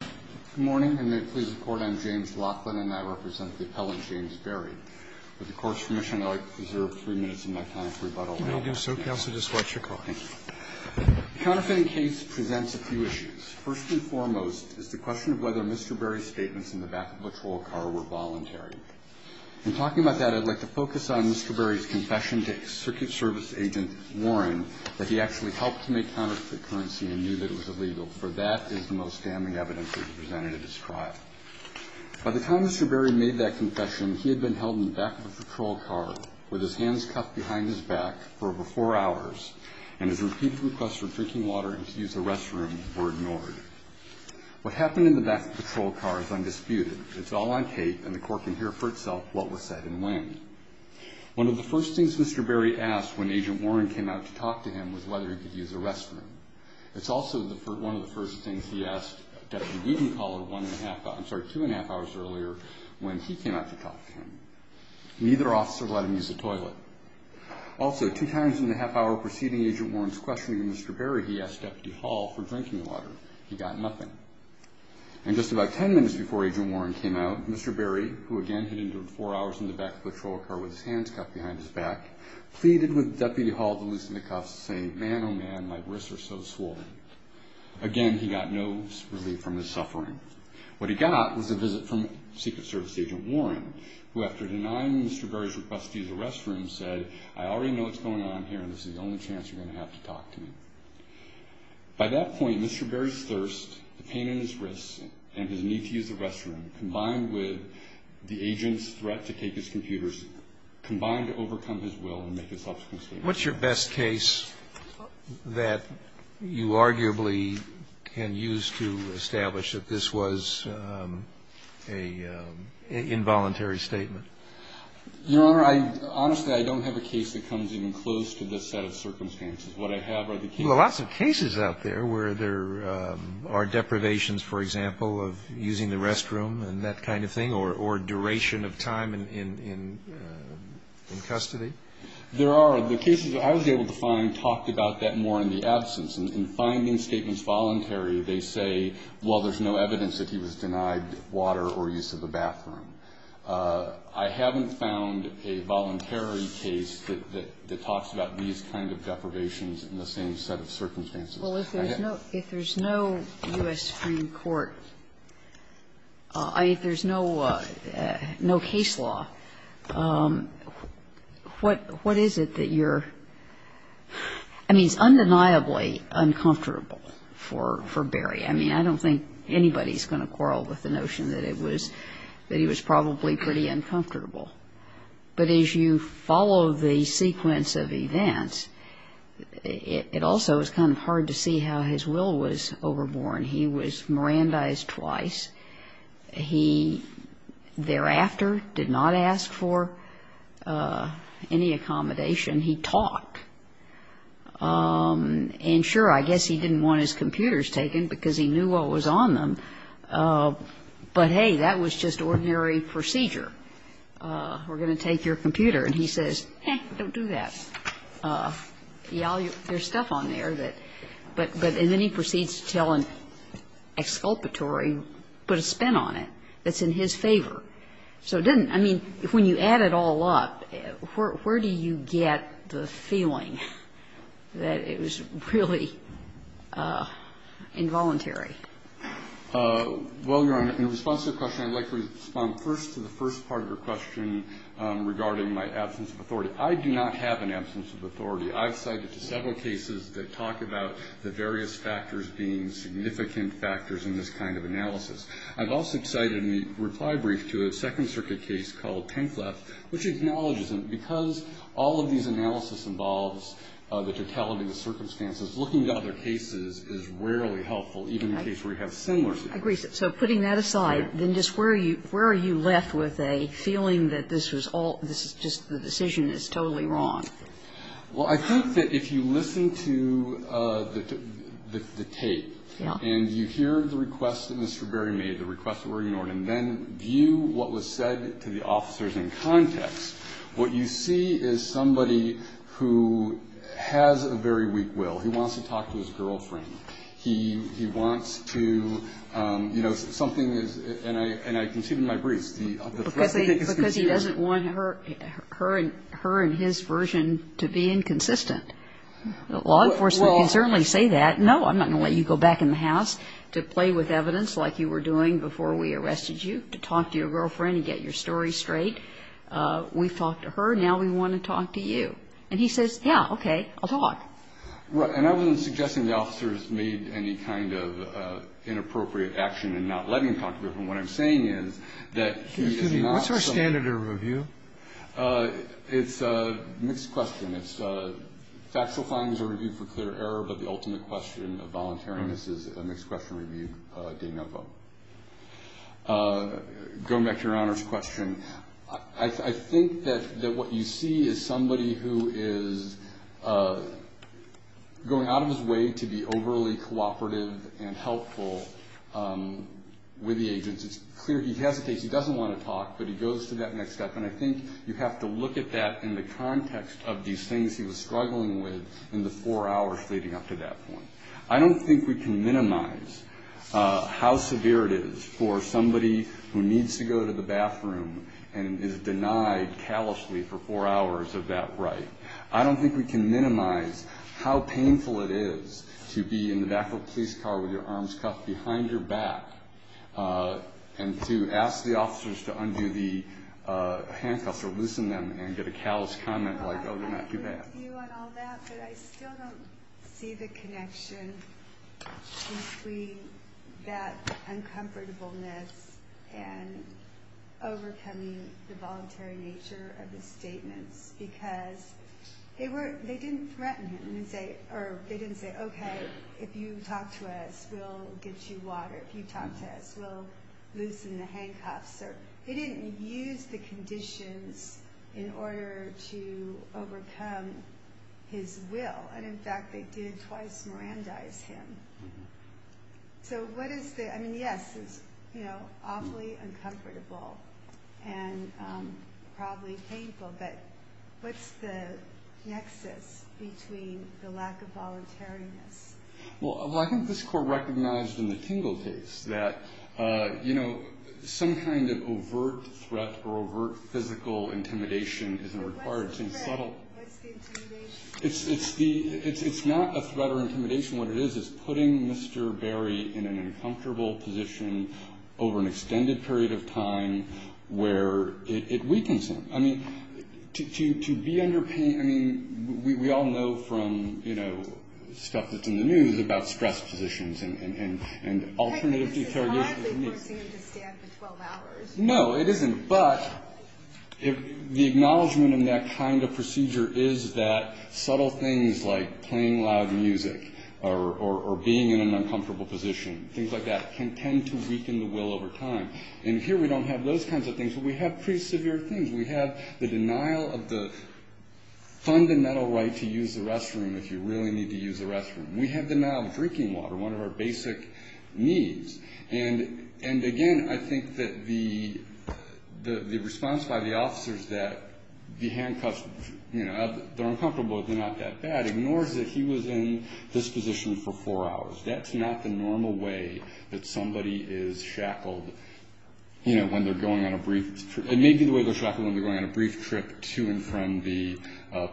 Good morning, and may it please the Court, I'm James Laughlin, and I represent the appellant James Berry. With the Court's permission, I'd like to preserve three minutes of my time for rebuttal. You may do so, Counsel, just watch your call. Thank you. The counterfeiting case presents a few issues. First and foremost is the question of whether Mr. Berry's statements in the back of a patrol car were voluntary. In talking about that, I'd like to focus on Mr. Berry's confession to circuit service agent Warren that he actually helped to make counterfeit currency and knew that it was illegal, for that is the most damning evidence that he presented at his trial. By the time Mr. Berry made that confession, he had been held in the back of a patrol car with his hands cuffed behind his back for over four hours, and his repeated requests for drinking water and to use the restroom were ignored. What happened in the back of the patrol car is undisputed. It's all on tape, and the Court can hear for itself what was said and when. One of the first things Mr. Berry asked when agent Warren came out to talk to him was whether he could use the restroom. It's also one of the first things he asked Deputy Beedon Hall two and a half hours earlier when he came out to talk to him. Neither officer let him use the toilet. Also, two times in the half hour preceding agent Warren's questioning of Mr. Berry, he asked Deputy Hall for drinking water. He got nothing. And just about ten minutes before agent Warren came out, Mr. Berry, who again hid in the back of the patrol car with his hands cuffed behind his back, pleaded with Deputy Hall to loosen the cuffs, saying, Man, oh man, my wrists are so swollen. Again, he got no relief from his suffering. What he got was a visit from Secret Service agent Warren, who after denying Mr. Berry's request to use the restroom said, I already know what's going on here, and this is the only chance you're going to have to talk to me. By that point, Mr. Berry's thirst, the pain in his wrists, and his need to use the restroom, combined with the agent's threat to take his computers, combined to overcome his will and make a subsequent statement. What's your best case that you arguably can use to establish that this was an involuntary statement? Your Honor, honestly, I don't have a case that comes even close to this set of circumstances. What I have are the cases. Well, there are lots of cases out there where there are deprivations, for example, of using the restroom and that kind of thing, or duration of time in custody. There are. The cases I was able to find talked about that more in the absence. In finding statements voluntary, they say, Well, there's no evidence that he was denied water or use of the bathroom. I haven't found a voluntary case that talks about these kind of deprivations in the same set of circumstances. Well, if there's no U.S. Supreme Court, if there's no case law, what is it that you're – I mean, it's undeniably uncomfortable for Berry. I mean, I don't think anybody's going to quarrel with the notion that it was – that he was probably pretty uncomfortable. But as you follow the sequence of events, it also is kind of hard to see how his will was overborne. He was Mirandized twice. He thereafter did not ask for any accommodation. He talked. And sure, I guess he didn't want his computers taken because he knew what was on them. But, hey, that was just ordinary procedure. We're going to take your computer. And he says, hey, don't do that. There's stuff on there that – but then he proceeds to tell an exculpatory, put a spin on it that's in his favor. So it didn't – I mean, when you add it all up, where do you get the feeling that it was really involuntary? Well, Your Honor, in response to your question, I'd like to respond first to the first part of your question regarding my absence of authority. I do not have an absence of authority. I've cited several cases that talk about the various factors being significant factors in this kind of analysis. I've also cited in the reply brief to a Second Circuit case called Penkleff, which acknowledges them. Because all of these analysis involves the totality of circumstances, looking at other cases is rarely helpful, even in a case where you have similar circumstances. I agree. So putting that aside, then just where are you left with a feeling that this was all – this is just – the decision is totally wrong? Well, I think that if you listen to the tape and you hear the request that Mr. Berry made, the request that were ignored, and then view what was said to the officers in context, what you see is somebody who has a very weak will. He wants to talk to his girlfriend. He wants to, you know, something is – and I can see it in my briefs. Because he doesn't want her and his version to be inconsistent. Law enforcement can certainly say that. No, I'm not going to let you go back in the house to play with evidence like you were doing before we arrested you, to talk to your girlfriend and get your story straight. We've talked to her. Now we want to talk to you. And he says, yeah, okay, I'll talk. Right. And I wasn't suggesting the officers made any kind of inappropriate action in not letting him talk to her. What I'm saying is that he is not – Excuse me. What's our standard of review? It's a mixed question. It's factual findings are reviewed for clear error, but the ultimate question of voluntariness is a mixed question reviewed de novo. Going back to your honors question, I think that what you see is somebody who is going out of his way to be overly cooperative and helpful with the agents. It's clear he hesitates. He doesn't want to talk, but he goes to that next step. And I think you have to look at that in the context of these things he was struggling with in the four hours leading up to that point. I don't think we can minimize how severe it is for somebody who needs to go to the bathroom and is denied callously for four hours of that right. I don't think we can minimize how painful it is to be in the back of a police car with your arms cuffed behind your back and to ask the officers to undo the handcuffs or loosen them and get a callous comment like, oh, they're not too bad. But I still don't see the connection between that uncomfortableness and overcoming the voluntary nature of the statements because they didn't threaten him. They didn't say, okay, if you talk to us, we'll get you water. If you talk to us, we'll loosen the handcuffs. They didn't use the conditions in order to overcome his will. And, in fact, they did twice Mirandize him. So what is the, I mean, yes, it's awfully uncomfortable and probably painful, but what's the nexus between the lack of voluntariness? Well, I think this Court recognized in the Tingle case that, you know, some kind of overt threat or overt physical intimidation isn't required. What's the threat? What's the intimidation? It's not a threat or intimidation. What it is is putting Mr. Berry in an uncomfortable position over an extended period of time where it weakens him. I mean, to be under pain, I mean, we all know from, you know, stuff that's in the news about stress positions and alternative interrogations. It's not forcing him to stand for 12 hours. No, it isn't. But the acknowledgement in that kind of procedure is that subtle things like playing loud music or being in an uncomfortable position, things like that, can tend to weaken the will over time. And here we don't have those kinds of things, but we have pretty severe things. We have the denial of the fundamental right to use the restroom if you really need to use the restroom. We have the denial of drinking water, one of our basic needs. And, again, I think that the response by the officers that the handcuffs, you know, they're uncomfortable, they're not that bad, ignores that he was in this position for four hours. That's not the normal way that somebody is shackled, you know, when they're going on a brief trip to and from the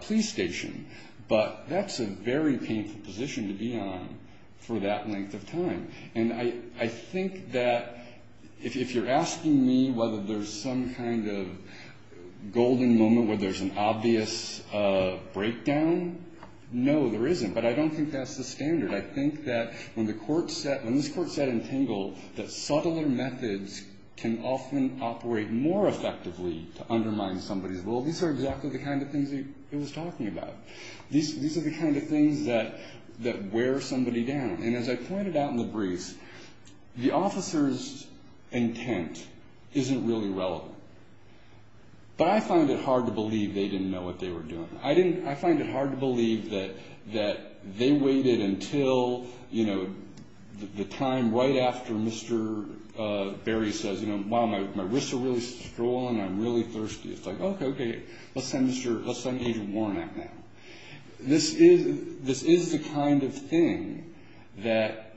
police station. But that's a very painful position to be on for that length of time. And I think that if you're asking me whether there's some kind of golden moment where there's an obvious breakdown, no, there isn't. But I don't think that's the standard. I think that when the court set, when this court set in Tingle, that subtler methods can often operate more effectively to undermine somebody's will. These are exactly the kind of things he was talking about. These are the kind of things that wear somebody down. And as I pointed out in the briefs, the officer's intent isn't really relevant. But I find it hard to believe they didn't know what they were doing. I find it hard to believe that they waited until, you know, the time right after Mr. Berry says, you know, wow, my wrists are really swollen. I'm really thirsty. It's like, okay, okay, let's send Agent Warnock now. This is the kind of thing that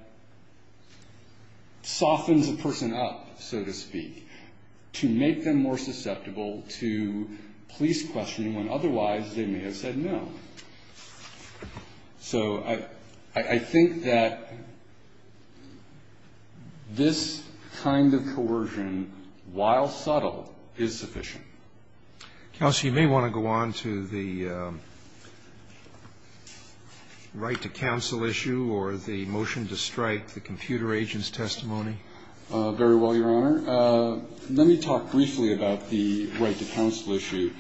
softens a person up, so to speak, to make them more susceptible to police questioning when otherwise they may have said no. So I think that this kind of coercion, while subtle, is sufficient. Counsel, you may want to go on to the right to counsel issue or the motion to strike the computer agent's testimony. Very well, Your Honor. Let me talk briefly about the right to counsel issue.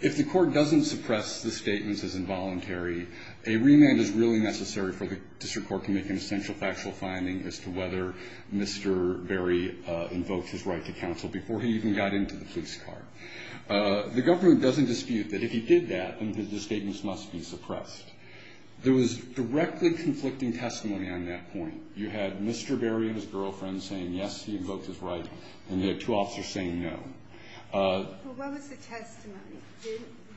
If the court doesn't suppress the statements as involuntary, a remand is really necessary for the district court to make an essential factual finding as to whether Mr. Berry invoked his right to counsel before he even got into the police car. The government doesn't dispute that if he did that, then the statements must be suppressed. There was directly conflicting testimony on that point. You had Mr. Berry and his girlfriend saying, yes, he invoked his right, and you had two officers saying no. Well, what was the testimony?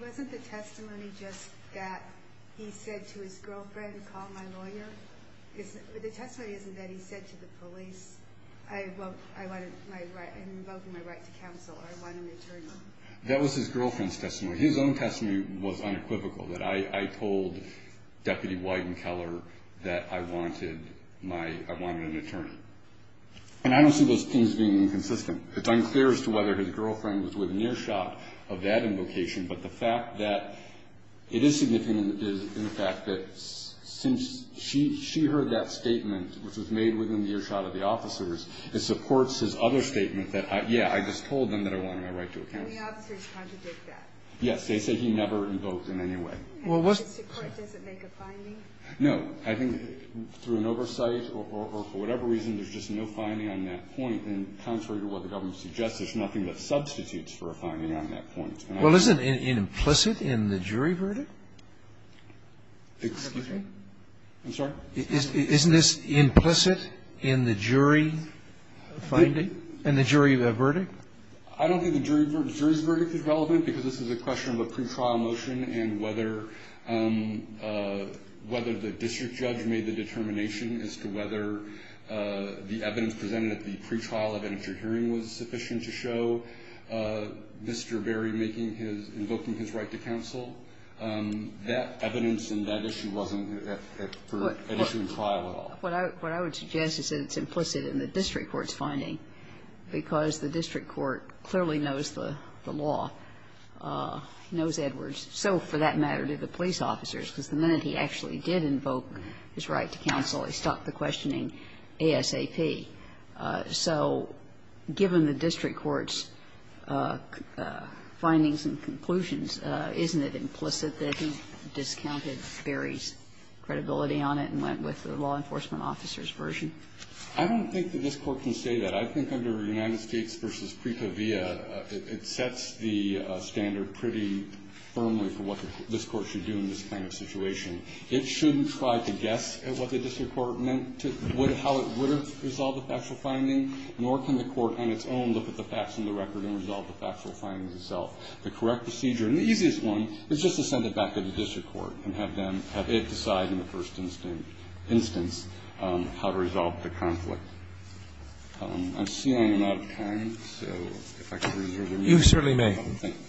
Wasn't the testimony just that he said to his girlfriend, call my lawyer? The testimony isn't that he said to the police, I'm invoking my right to counsel, I want an attorney. That was his girlfriend's testimony. His own testimony was unequivocal, that I told Deputy Wyden Keller that I wanted an attorney. And I don't see those things being inconsistent. It's unclear as to whether his girlfriend was within earshot of that invocation, but the fact that it is significant is in the fact that since she heard that statement, which was made within the earshot of the officers, it supports his other statement that, yeah, I just told them that I wanted my right to counsel. And the officers contradict that. Yes. They say he never invoked in any way. Well, what's the point? Does it make a finding? No. I think through an oversight or for whatever reason, there's just no finding on that point, and contrary to what the government suggests, there's nothing that substitutes for a finding on that point. Well, isn't it implicit in the jury verdict? Excuse me? I'm sorry? Isn't this implicit in the jury finding, in the jury verdict? I don't think the jury's verdict is relevant because this is a question of a pretrial motion and whether the district judge made the determination as to whether the evidence presented at the pretrial event at your hearing was sufficient to show Mr. Berry invoking his right to counsel. That evidence in that issue wasn't at issue in trial at all. What I would suggest is that it's implicit in the district court's finding because the district court clearly knows the law, knows Edwards. So, for that matter, did the police officers, because the minute he actually did invoke his right to counsel, he stopped the questioning ASAP. So given the district court's findings and conclusions, isn't it implicit that he discounted Berry's credibility on it and went with the law enforcement officer's version? I don't think that this Court can say that. I think under United States v. Pripa Via, it sets the standard pretty firmly for what this Court should do in this kind of situation. It shouldn't try to guess at what the district court meant to, how it would have resolved the factual finding, nor can the court on its own look at the facts on the record and resolve the factual findings itself. The correct procedure, and the easiest one, is just to send it back to the district court and have them, have it decide in the first instance how to resolve the conflict. I see I'm out of time, so if I could reserve a minute. You certainly may. Thank you.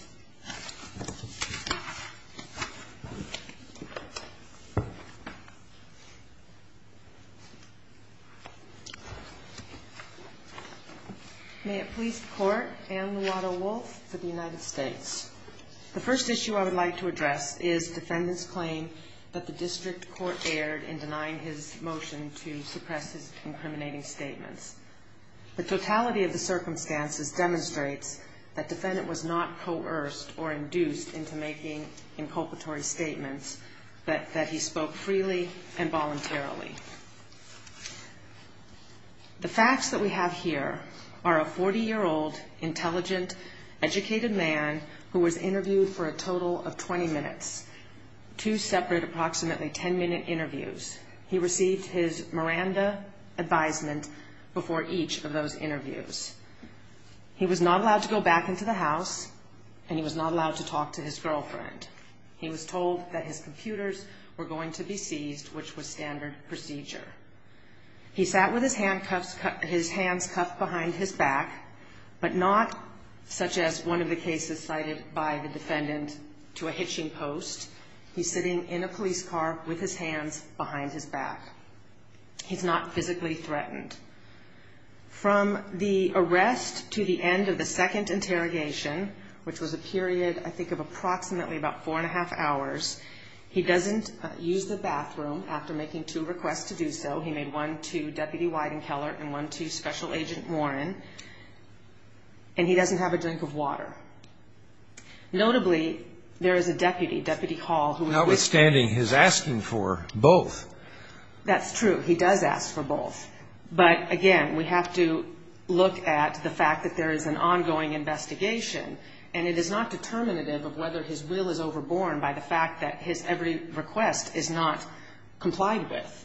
May it please the Court. Ann Luotto-Wolf for the United States. The first issue I would like to address is defendant's claim that the district court erred in denying his motion to suppress his incriminating statements. The totality of the circumstances demonstrates that defendant was not coerced or induced into making inculpatory statements, that he spoke freely and voluntarily. The facts that we have here are a 40-year-old, intelligent, educated man who was He received his Miranda advisement before each of those interviews. He was not allowed to go back into the house, and he was not allowed to talk to his girlfriend. He was told that his computers were going to be seized, which was standard procedure. He sat with his hands cuffed behind his back, but not such as one of the cases cited by the defendant to a hitching post. He's sitting in a police car with his hands behind his back. He's not physically threatened. From the arrest to the end of the second interrogation, which was a period, I think, of approximately about four and a half hours, he doesn't use the bathroom after making two requests to do so. He made one to Deputy Wyden Keller and one to Special Agent Warren, and he doesn't have a drink of water. Notably, there is a deputy, Deputy Hall, who is with him. Outstanding. He's asking for both. That's true. He does ask for both. But, again, we have to look at the fact that there is an ongoing investigation, and it is not determinative of whether his will is overborne by the fact that his every request is not complied with.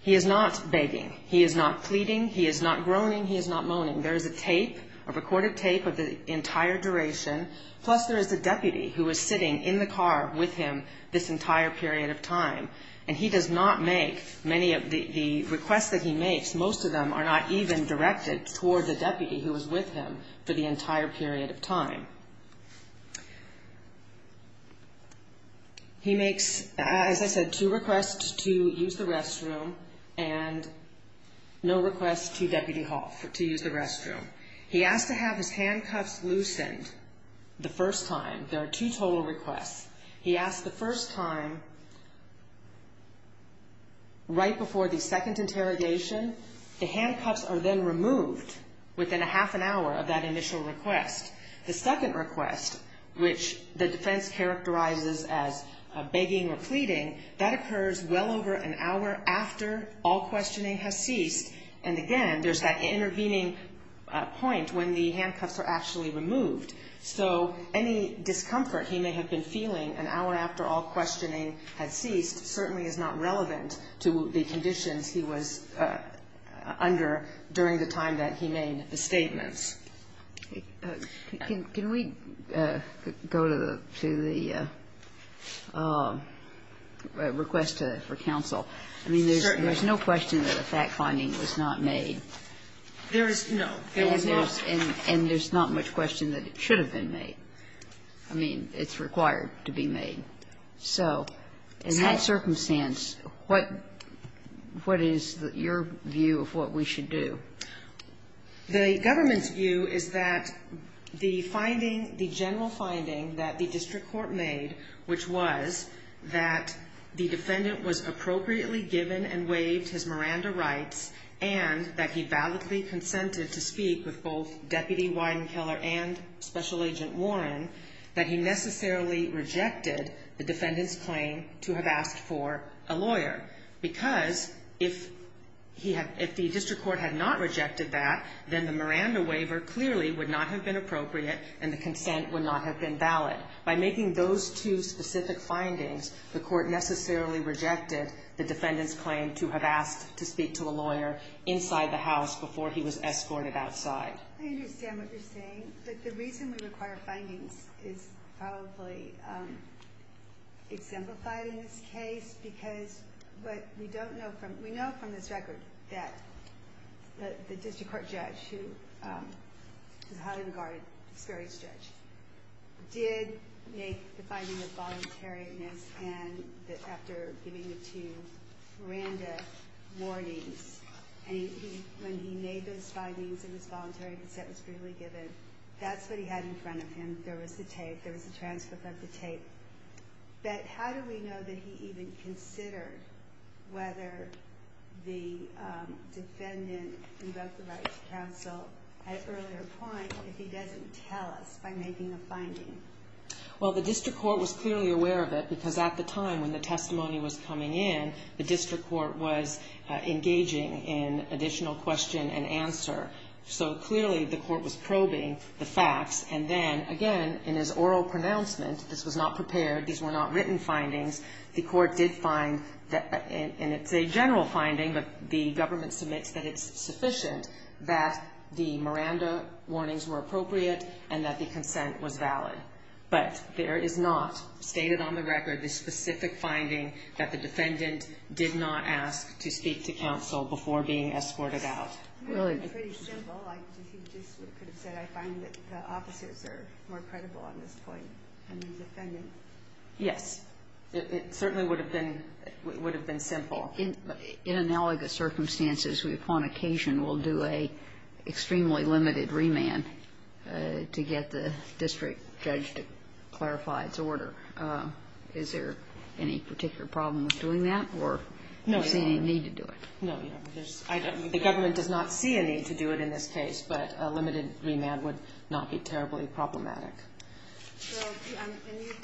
He is not begging. He is not pleading. He is not groaning. He is not moaning. There is a tape, a recorded tape of the entire duration, plus there is a deputy who is sitting in the car with him this entire period of time, and he does not make many of the requests that he makes. Most of them are not even directed toward the deputy who was with him for the entire period of time. He makes, as I said, two requests to use the restroom and no requests to Deputy Hall to use the restroom. He asks to have his handcuffs loosened the first time. There are two total requests. He asks the first time, right before the second interrogation, the handcuffs are then removed within a half an hour of that initial request. The second request, which the defense characterizes as begging or pleading, that occurs well over an hour after all questioning has ceased, and, again, there's that intervening point when the handcuffs are actually removed. So any discomfort he may have been feeling an hour after all questioning had ceased certainly is not relevant to the conditions he was under during the time that he made the statements. Can we go to the request for counsel? I mean, there's no question that a fact finding was not made. There is no. And there's not much question that it should have been made. I mean, it's required to be made. So in that circumstance, what is your view of what we should do? The government's view is that the finding, the general finding that the district court made, which was that the defendant was appropriately given and waived his Miranda rights and that he validly consented to speak with both Deputy Wyden Keller and Special Agent Warren, that he necessarily rejected the defendant's claim to have asked for a lawyer. Because if the district court had not rejected that, then the Miranda waiver clearly would not have been appropriate and the consent would not have been valid. By making those two specific findings, the court necessarily rejected the defendant's claim to have asked to speak to a lawyer inside the house before he was escorted outside. I understand what you're saying. But the reason we require findings is probably exemplified in this case because what we don't know from – we know from this record that the district court judge, who is a highly regarded, experienced judge, did make the finding of voluntariness and that after giving the two Miranda warnings, and when he made those findings and his voluntary consent was freely given, that's what he had in front of him. There was the tape. There was the transcript of the tape. But how do we know that he even considered whether the defendant invoked the rights of counsel at an earlier point if he doesn't tell us by making a finding? Well, the district court was clearly aware of it because at the time when the testimony was coming in, the district court was engaging in additional question and answer. So clearly the court was probing the facts. And then, again, in his oral pronouncement, this was not prepared. These were not written findings. The court did find, and it's a general finding, but the government submits that it's sufficient that the Miranda warnings were appropriate and that the consent was valid. But there is not stated on the record the specific finding that the defendant did not ask to speak to counsel before being escorted out. Really? It's pretty simple. He just could have said, I find that the officers are more credible on this point than the defendant. Yes. It certainly would have been simple. In analogous circumstances, we upon occasion will do an extremely limited remand to get the district judge to clarify its order. Is there any particular problem with doing that or do you see any need to do it? No. The government does not see a need to do it in this case, but a limited remand would not be terribly problematic. And you've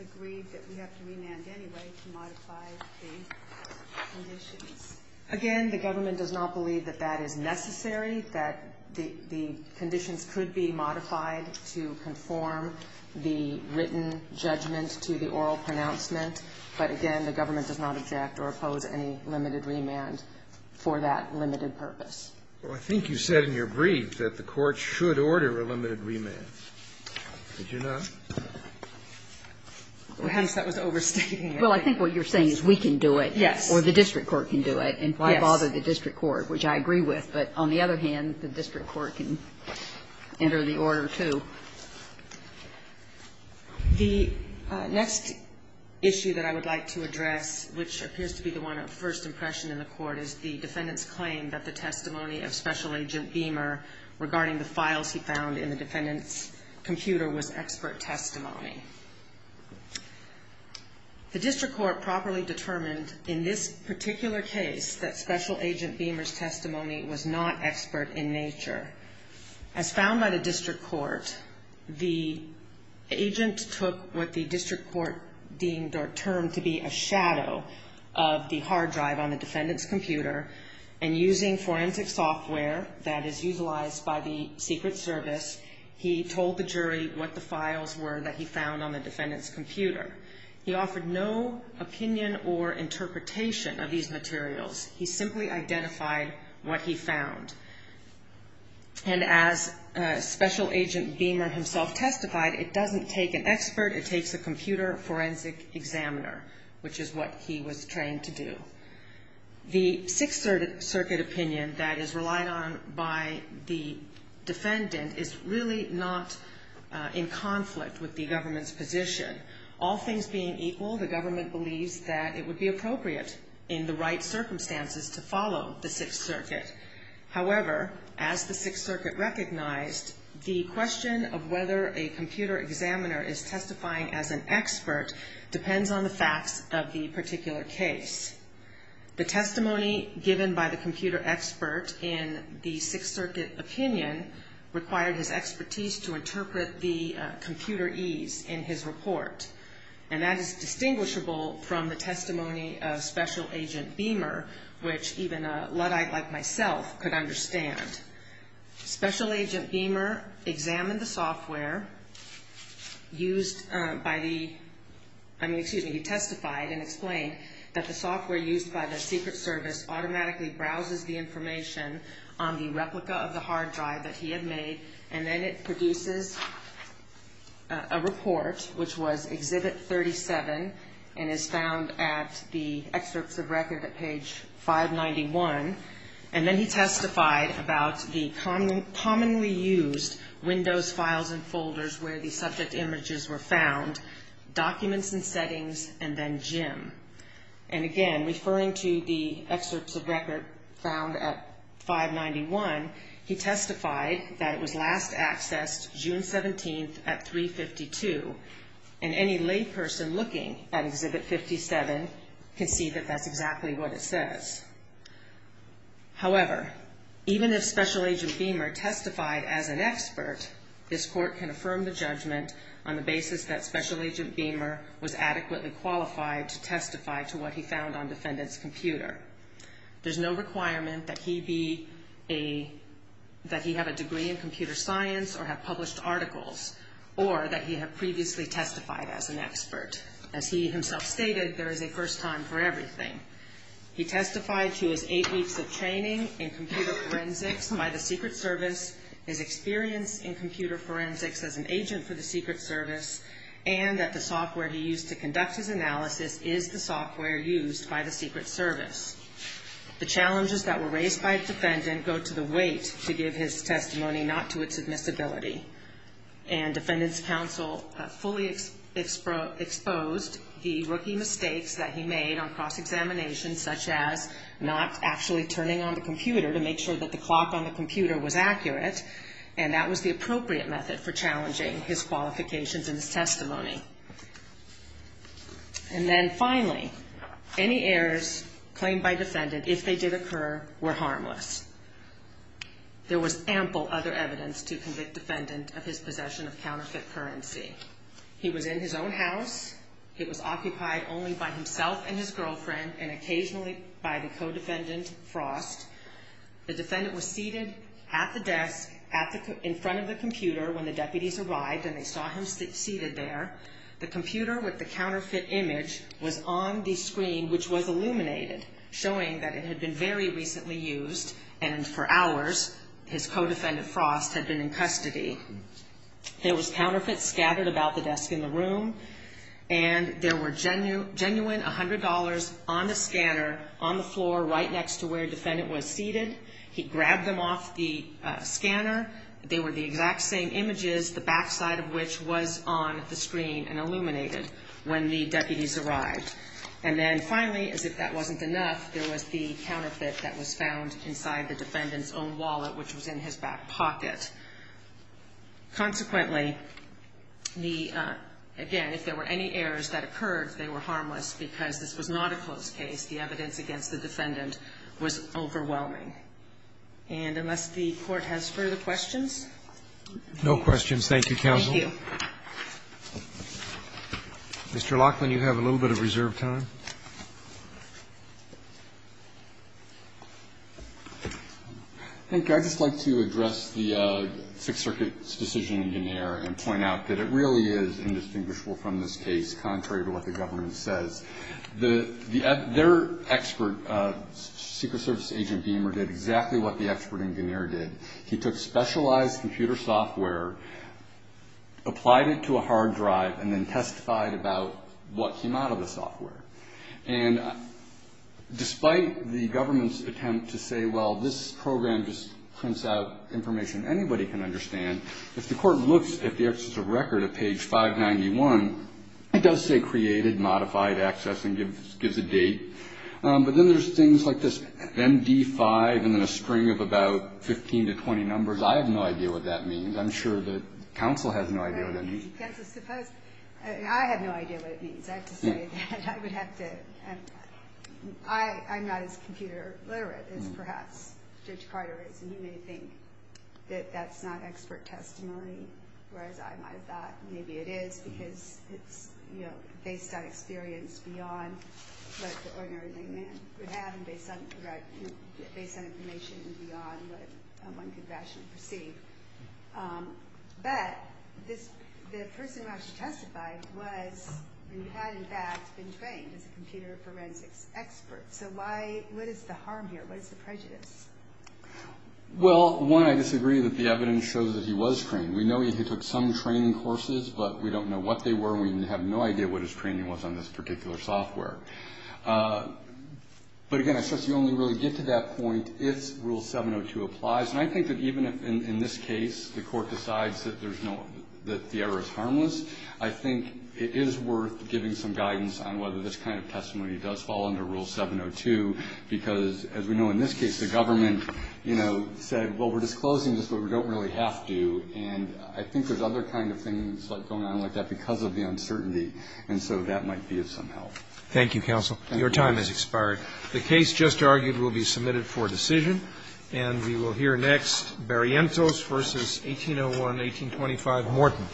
agreed that we have to remand anyway to modify the conditions. Again, the government does not believe that that is necessary, that the conditions could be modified to conform the written judgment to the oral pronouncement. But again, the government does not object or oppose any limited remand for that limited purpose. Well, I think you said in your brief that the court should order a limited remand. Did you not? Perhaps that was overstating it. Well, I think what you're saying is we can do it. Yes. Or the district court can do it. Yes. And why bother the district court, which I agree with. But on the other hand, the district court can enter the order, too. The next issue that I would like to address, which appears to be the one of first impression in the court, is the defendant's claim that the testimony of Special Agent Beamer regarding the files he found in the defendant's computer was expert testimony. The district court properly determined in this particular case that Special Agent Beamer's testimony was not expert in nature. As found by the district court, the agent took what the district court deemed or found on the defendant's computer, and using forensic software that is utilized by the Secret Service, he told the jury what the files were that he found on the defendant's computer. He offered no opinion or interpretation of these materials. He simply identified what he found. And as Special Agent Beamer himself testified, it doesn't take an expert. It takes a computer forensic examiner, which is what he was trained to do. The Sixth Circuit opinion that is relied on by the defendant is really not in conflict with the government's position. All things being equal, the government believes that it would be appropriate in the right circumstances to follow the Sixth Circuit. However, as the Sixth Circuit recognized, the question of whether a computer examiner is testifying as an expert depends on the facts of the particular case. The testimony given by the computer expert in the Sixth Circuit opinion required his expertise to interpret the computerese in his report. And that is distinguishable from the testimony of Special Agent Beamer, which even a Luddite like myself could understand. Special Agent Beamer examined the software used by the, I mean, excuse me, he testified and explained that the software used by the Secret Service automatically browses the information on the replica of the hard drive that he had made, and then it produces a report, which was Exhibit 37, and is found at the excerpts of record at page 591. And then he testified about the commonly used Windows files and folders where the subject images were found, documents and settings, and then Jim. And again, referring to the excerpts of record found at 591, he testified that it was last accessed June 17th at 352, and any layperson looking at Exhibit 57 can see that that's exactly what it says. However, even if Special Agent Beamer testified as an expert, this Court can affirm the judgment on the basis that Special Agent Beamer was adequately qualified to testify to what he found on defendant's computer. There's no requirement that he be a, that he have a degree in computer science or have published articles, or that he have previously testified as an expert. As he himself stated, there is a first time for everything. He testified to his eight weeks of training in computer forensics by the Secret Service, his experience in computer forensics as an agent for the Secret Service, and that the software he used to conduct his analysis is the software used by the Secret Service. The challenges that were raised by the defendant go to the weight to give his testimony, not to its admissibility. And defendant's counsel fully exposed the rookie mistakes that he made on cross-examination, such as not actually turning on the computer to make sure that the clock on the computer was accurate, and that was the appropriate method for challenging his qualifications and his testimony. And then finally, any errors claimed by defendant, if they did occur, were harmless. There was ample other evidence to convict defendant of his possession of counterfeit currency. He was in his own house. It was occupied only by himself and his girlfriend, and occasionally by the co-defendant, Frost. The defendant was seated at the desk in front of the computer when the deputies arrived, and they saw him seated there. The computer with the counterfeit image was on the screen, which was illuminated, showing that it had been very recently used, and for hours his co-defendant, Frost, had been in custody. There was counterfeit scattered about the desk in the room, and there were genuine $100 on the scanner on the floor right next to where defendant was seated. He grabbed them off the scanner. They were the exact same images, the backside of which was on the screen and illuminated when the deputies arrived. And then finally, as if that wasn't enough, there was the counterfeit that was found inside the defendant's own wallet, which was in his back pocket. Consequently, the – again, if there were any errors that occurred, they were harmless because this was not a closed case. The evidence against the defendant was overwhelming. And unless the Court has further questions? Roberts. No questions. Thank you, counsel. Thank you. Mr. Laughlin, you have a little bit of reserved time. Thank you. I'd just like to address the Sixth Circuit's decision in Guinier and point out that it really is indistinguishable from this case, contrary to what the government says. Their expert, Secret Service agent Beamer, did exactly what the expert in Guinier did. He took specialized computer software, applied it to a hard drive, and then testified about what came out of the software. And despite the government's attempt to say, well, this program just prints out information anybody can understand, if the Court looks at the excess of record at page 591, it does say created modified access and gives a date. But then there's things like this MD5 and then a string of about 15 to 20 numbers. I have no idea what that means. I'm sure the counsel has no idea what that means. I have no idea what it means. I have to say that I would have to ‑‑ I'm not as computer literate as perhaps Judge Carter is, and you may think that that's not expert testimony, whereas I might have thought maybe it is because it's based on experience beyond what the ordinary layman would have and based on information beyond what one could rationally perceive. But the person who actually testified was and had in fact been trained as a computer forensics expert. So what is the harm here? What is the prejudice? Well, one, I disagree that the evidence shows that he was trained. We know he took some training courses, but we don't know what they were. We have no idea what his training was on this particular software. But, again, I suggest you only really get to that point if Rule 702 applies. And I think that even if in this case the Court decides that there's no ‑‑ that the error is harmless, I think it is worth giving some guidance on whether this kind of testimony does fall under Rule 702 because, as we know in this case, the government, you know, said, well, we're disclosing this, but we don't really have to. And I think there's other kind of things going on like that because of the uncertainty. And so that might be of some help. Roberts. Thank you, counsel. Your time has expired. The case just argued will be submitted for decision. And we will hear next Barrientos v. 1801, 1825, Morton.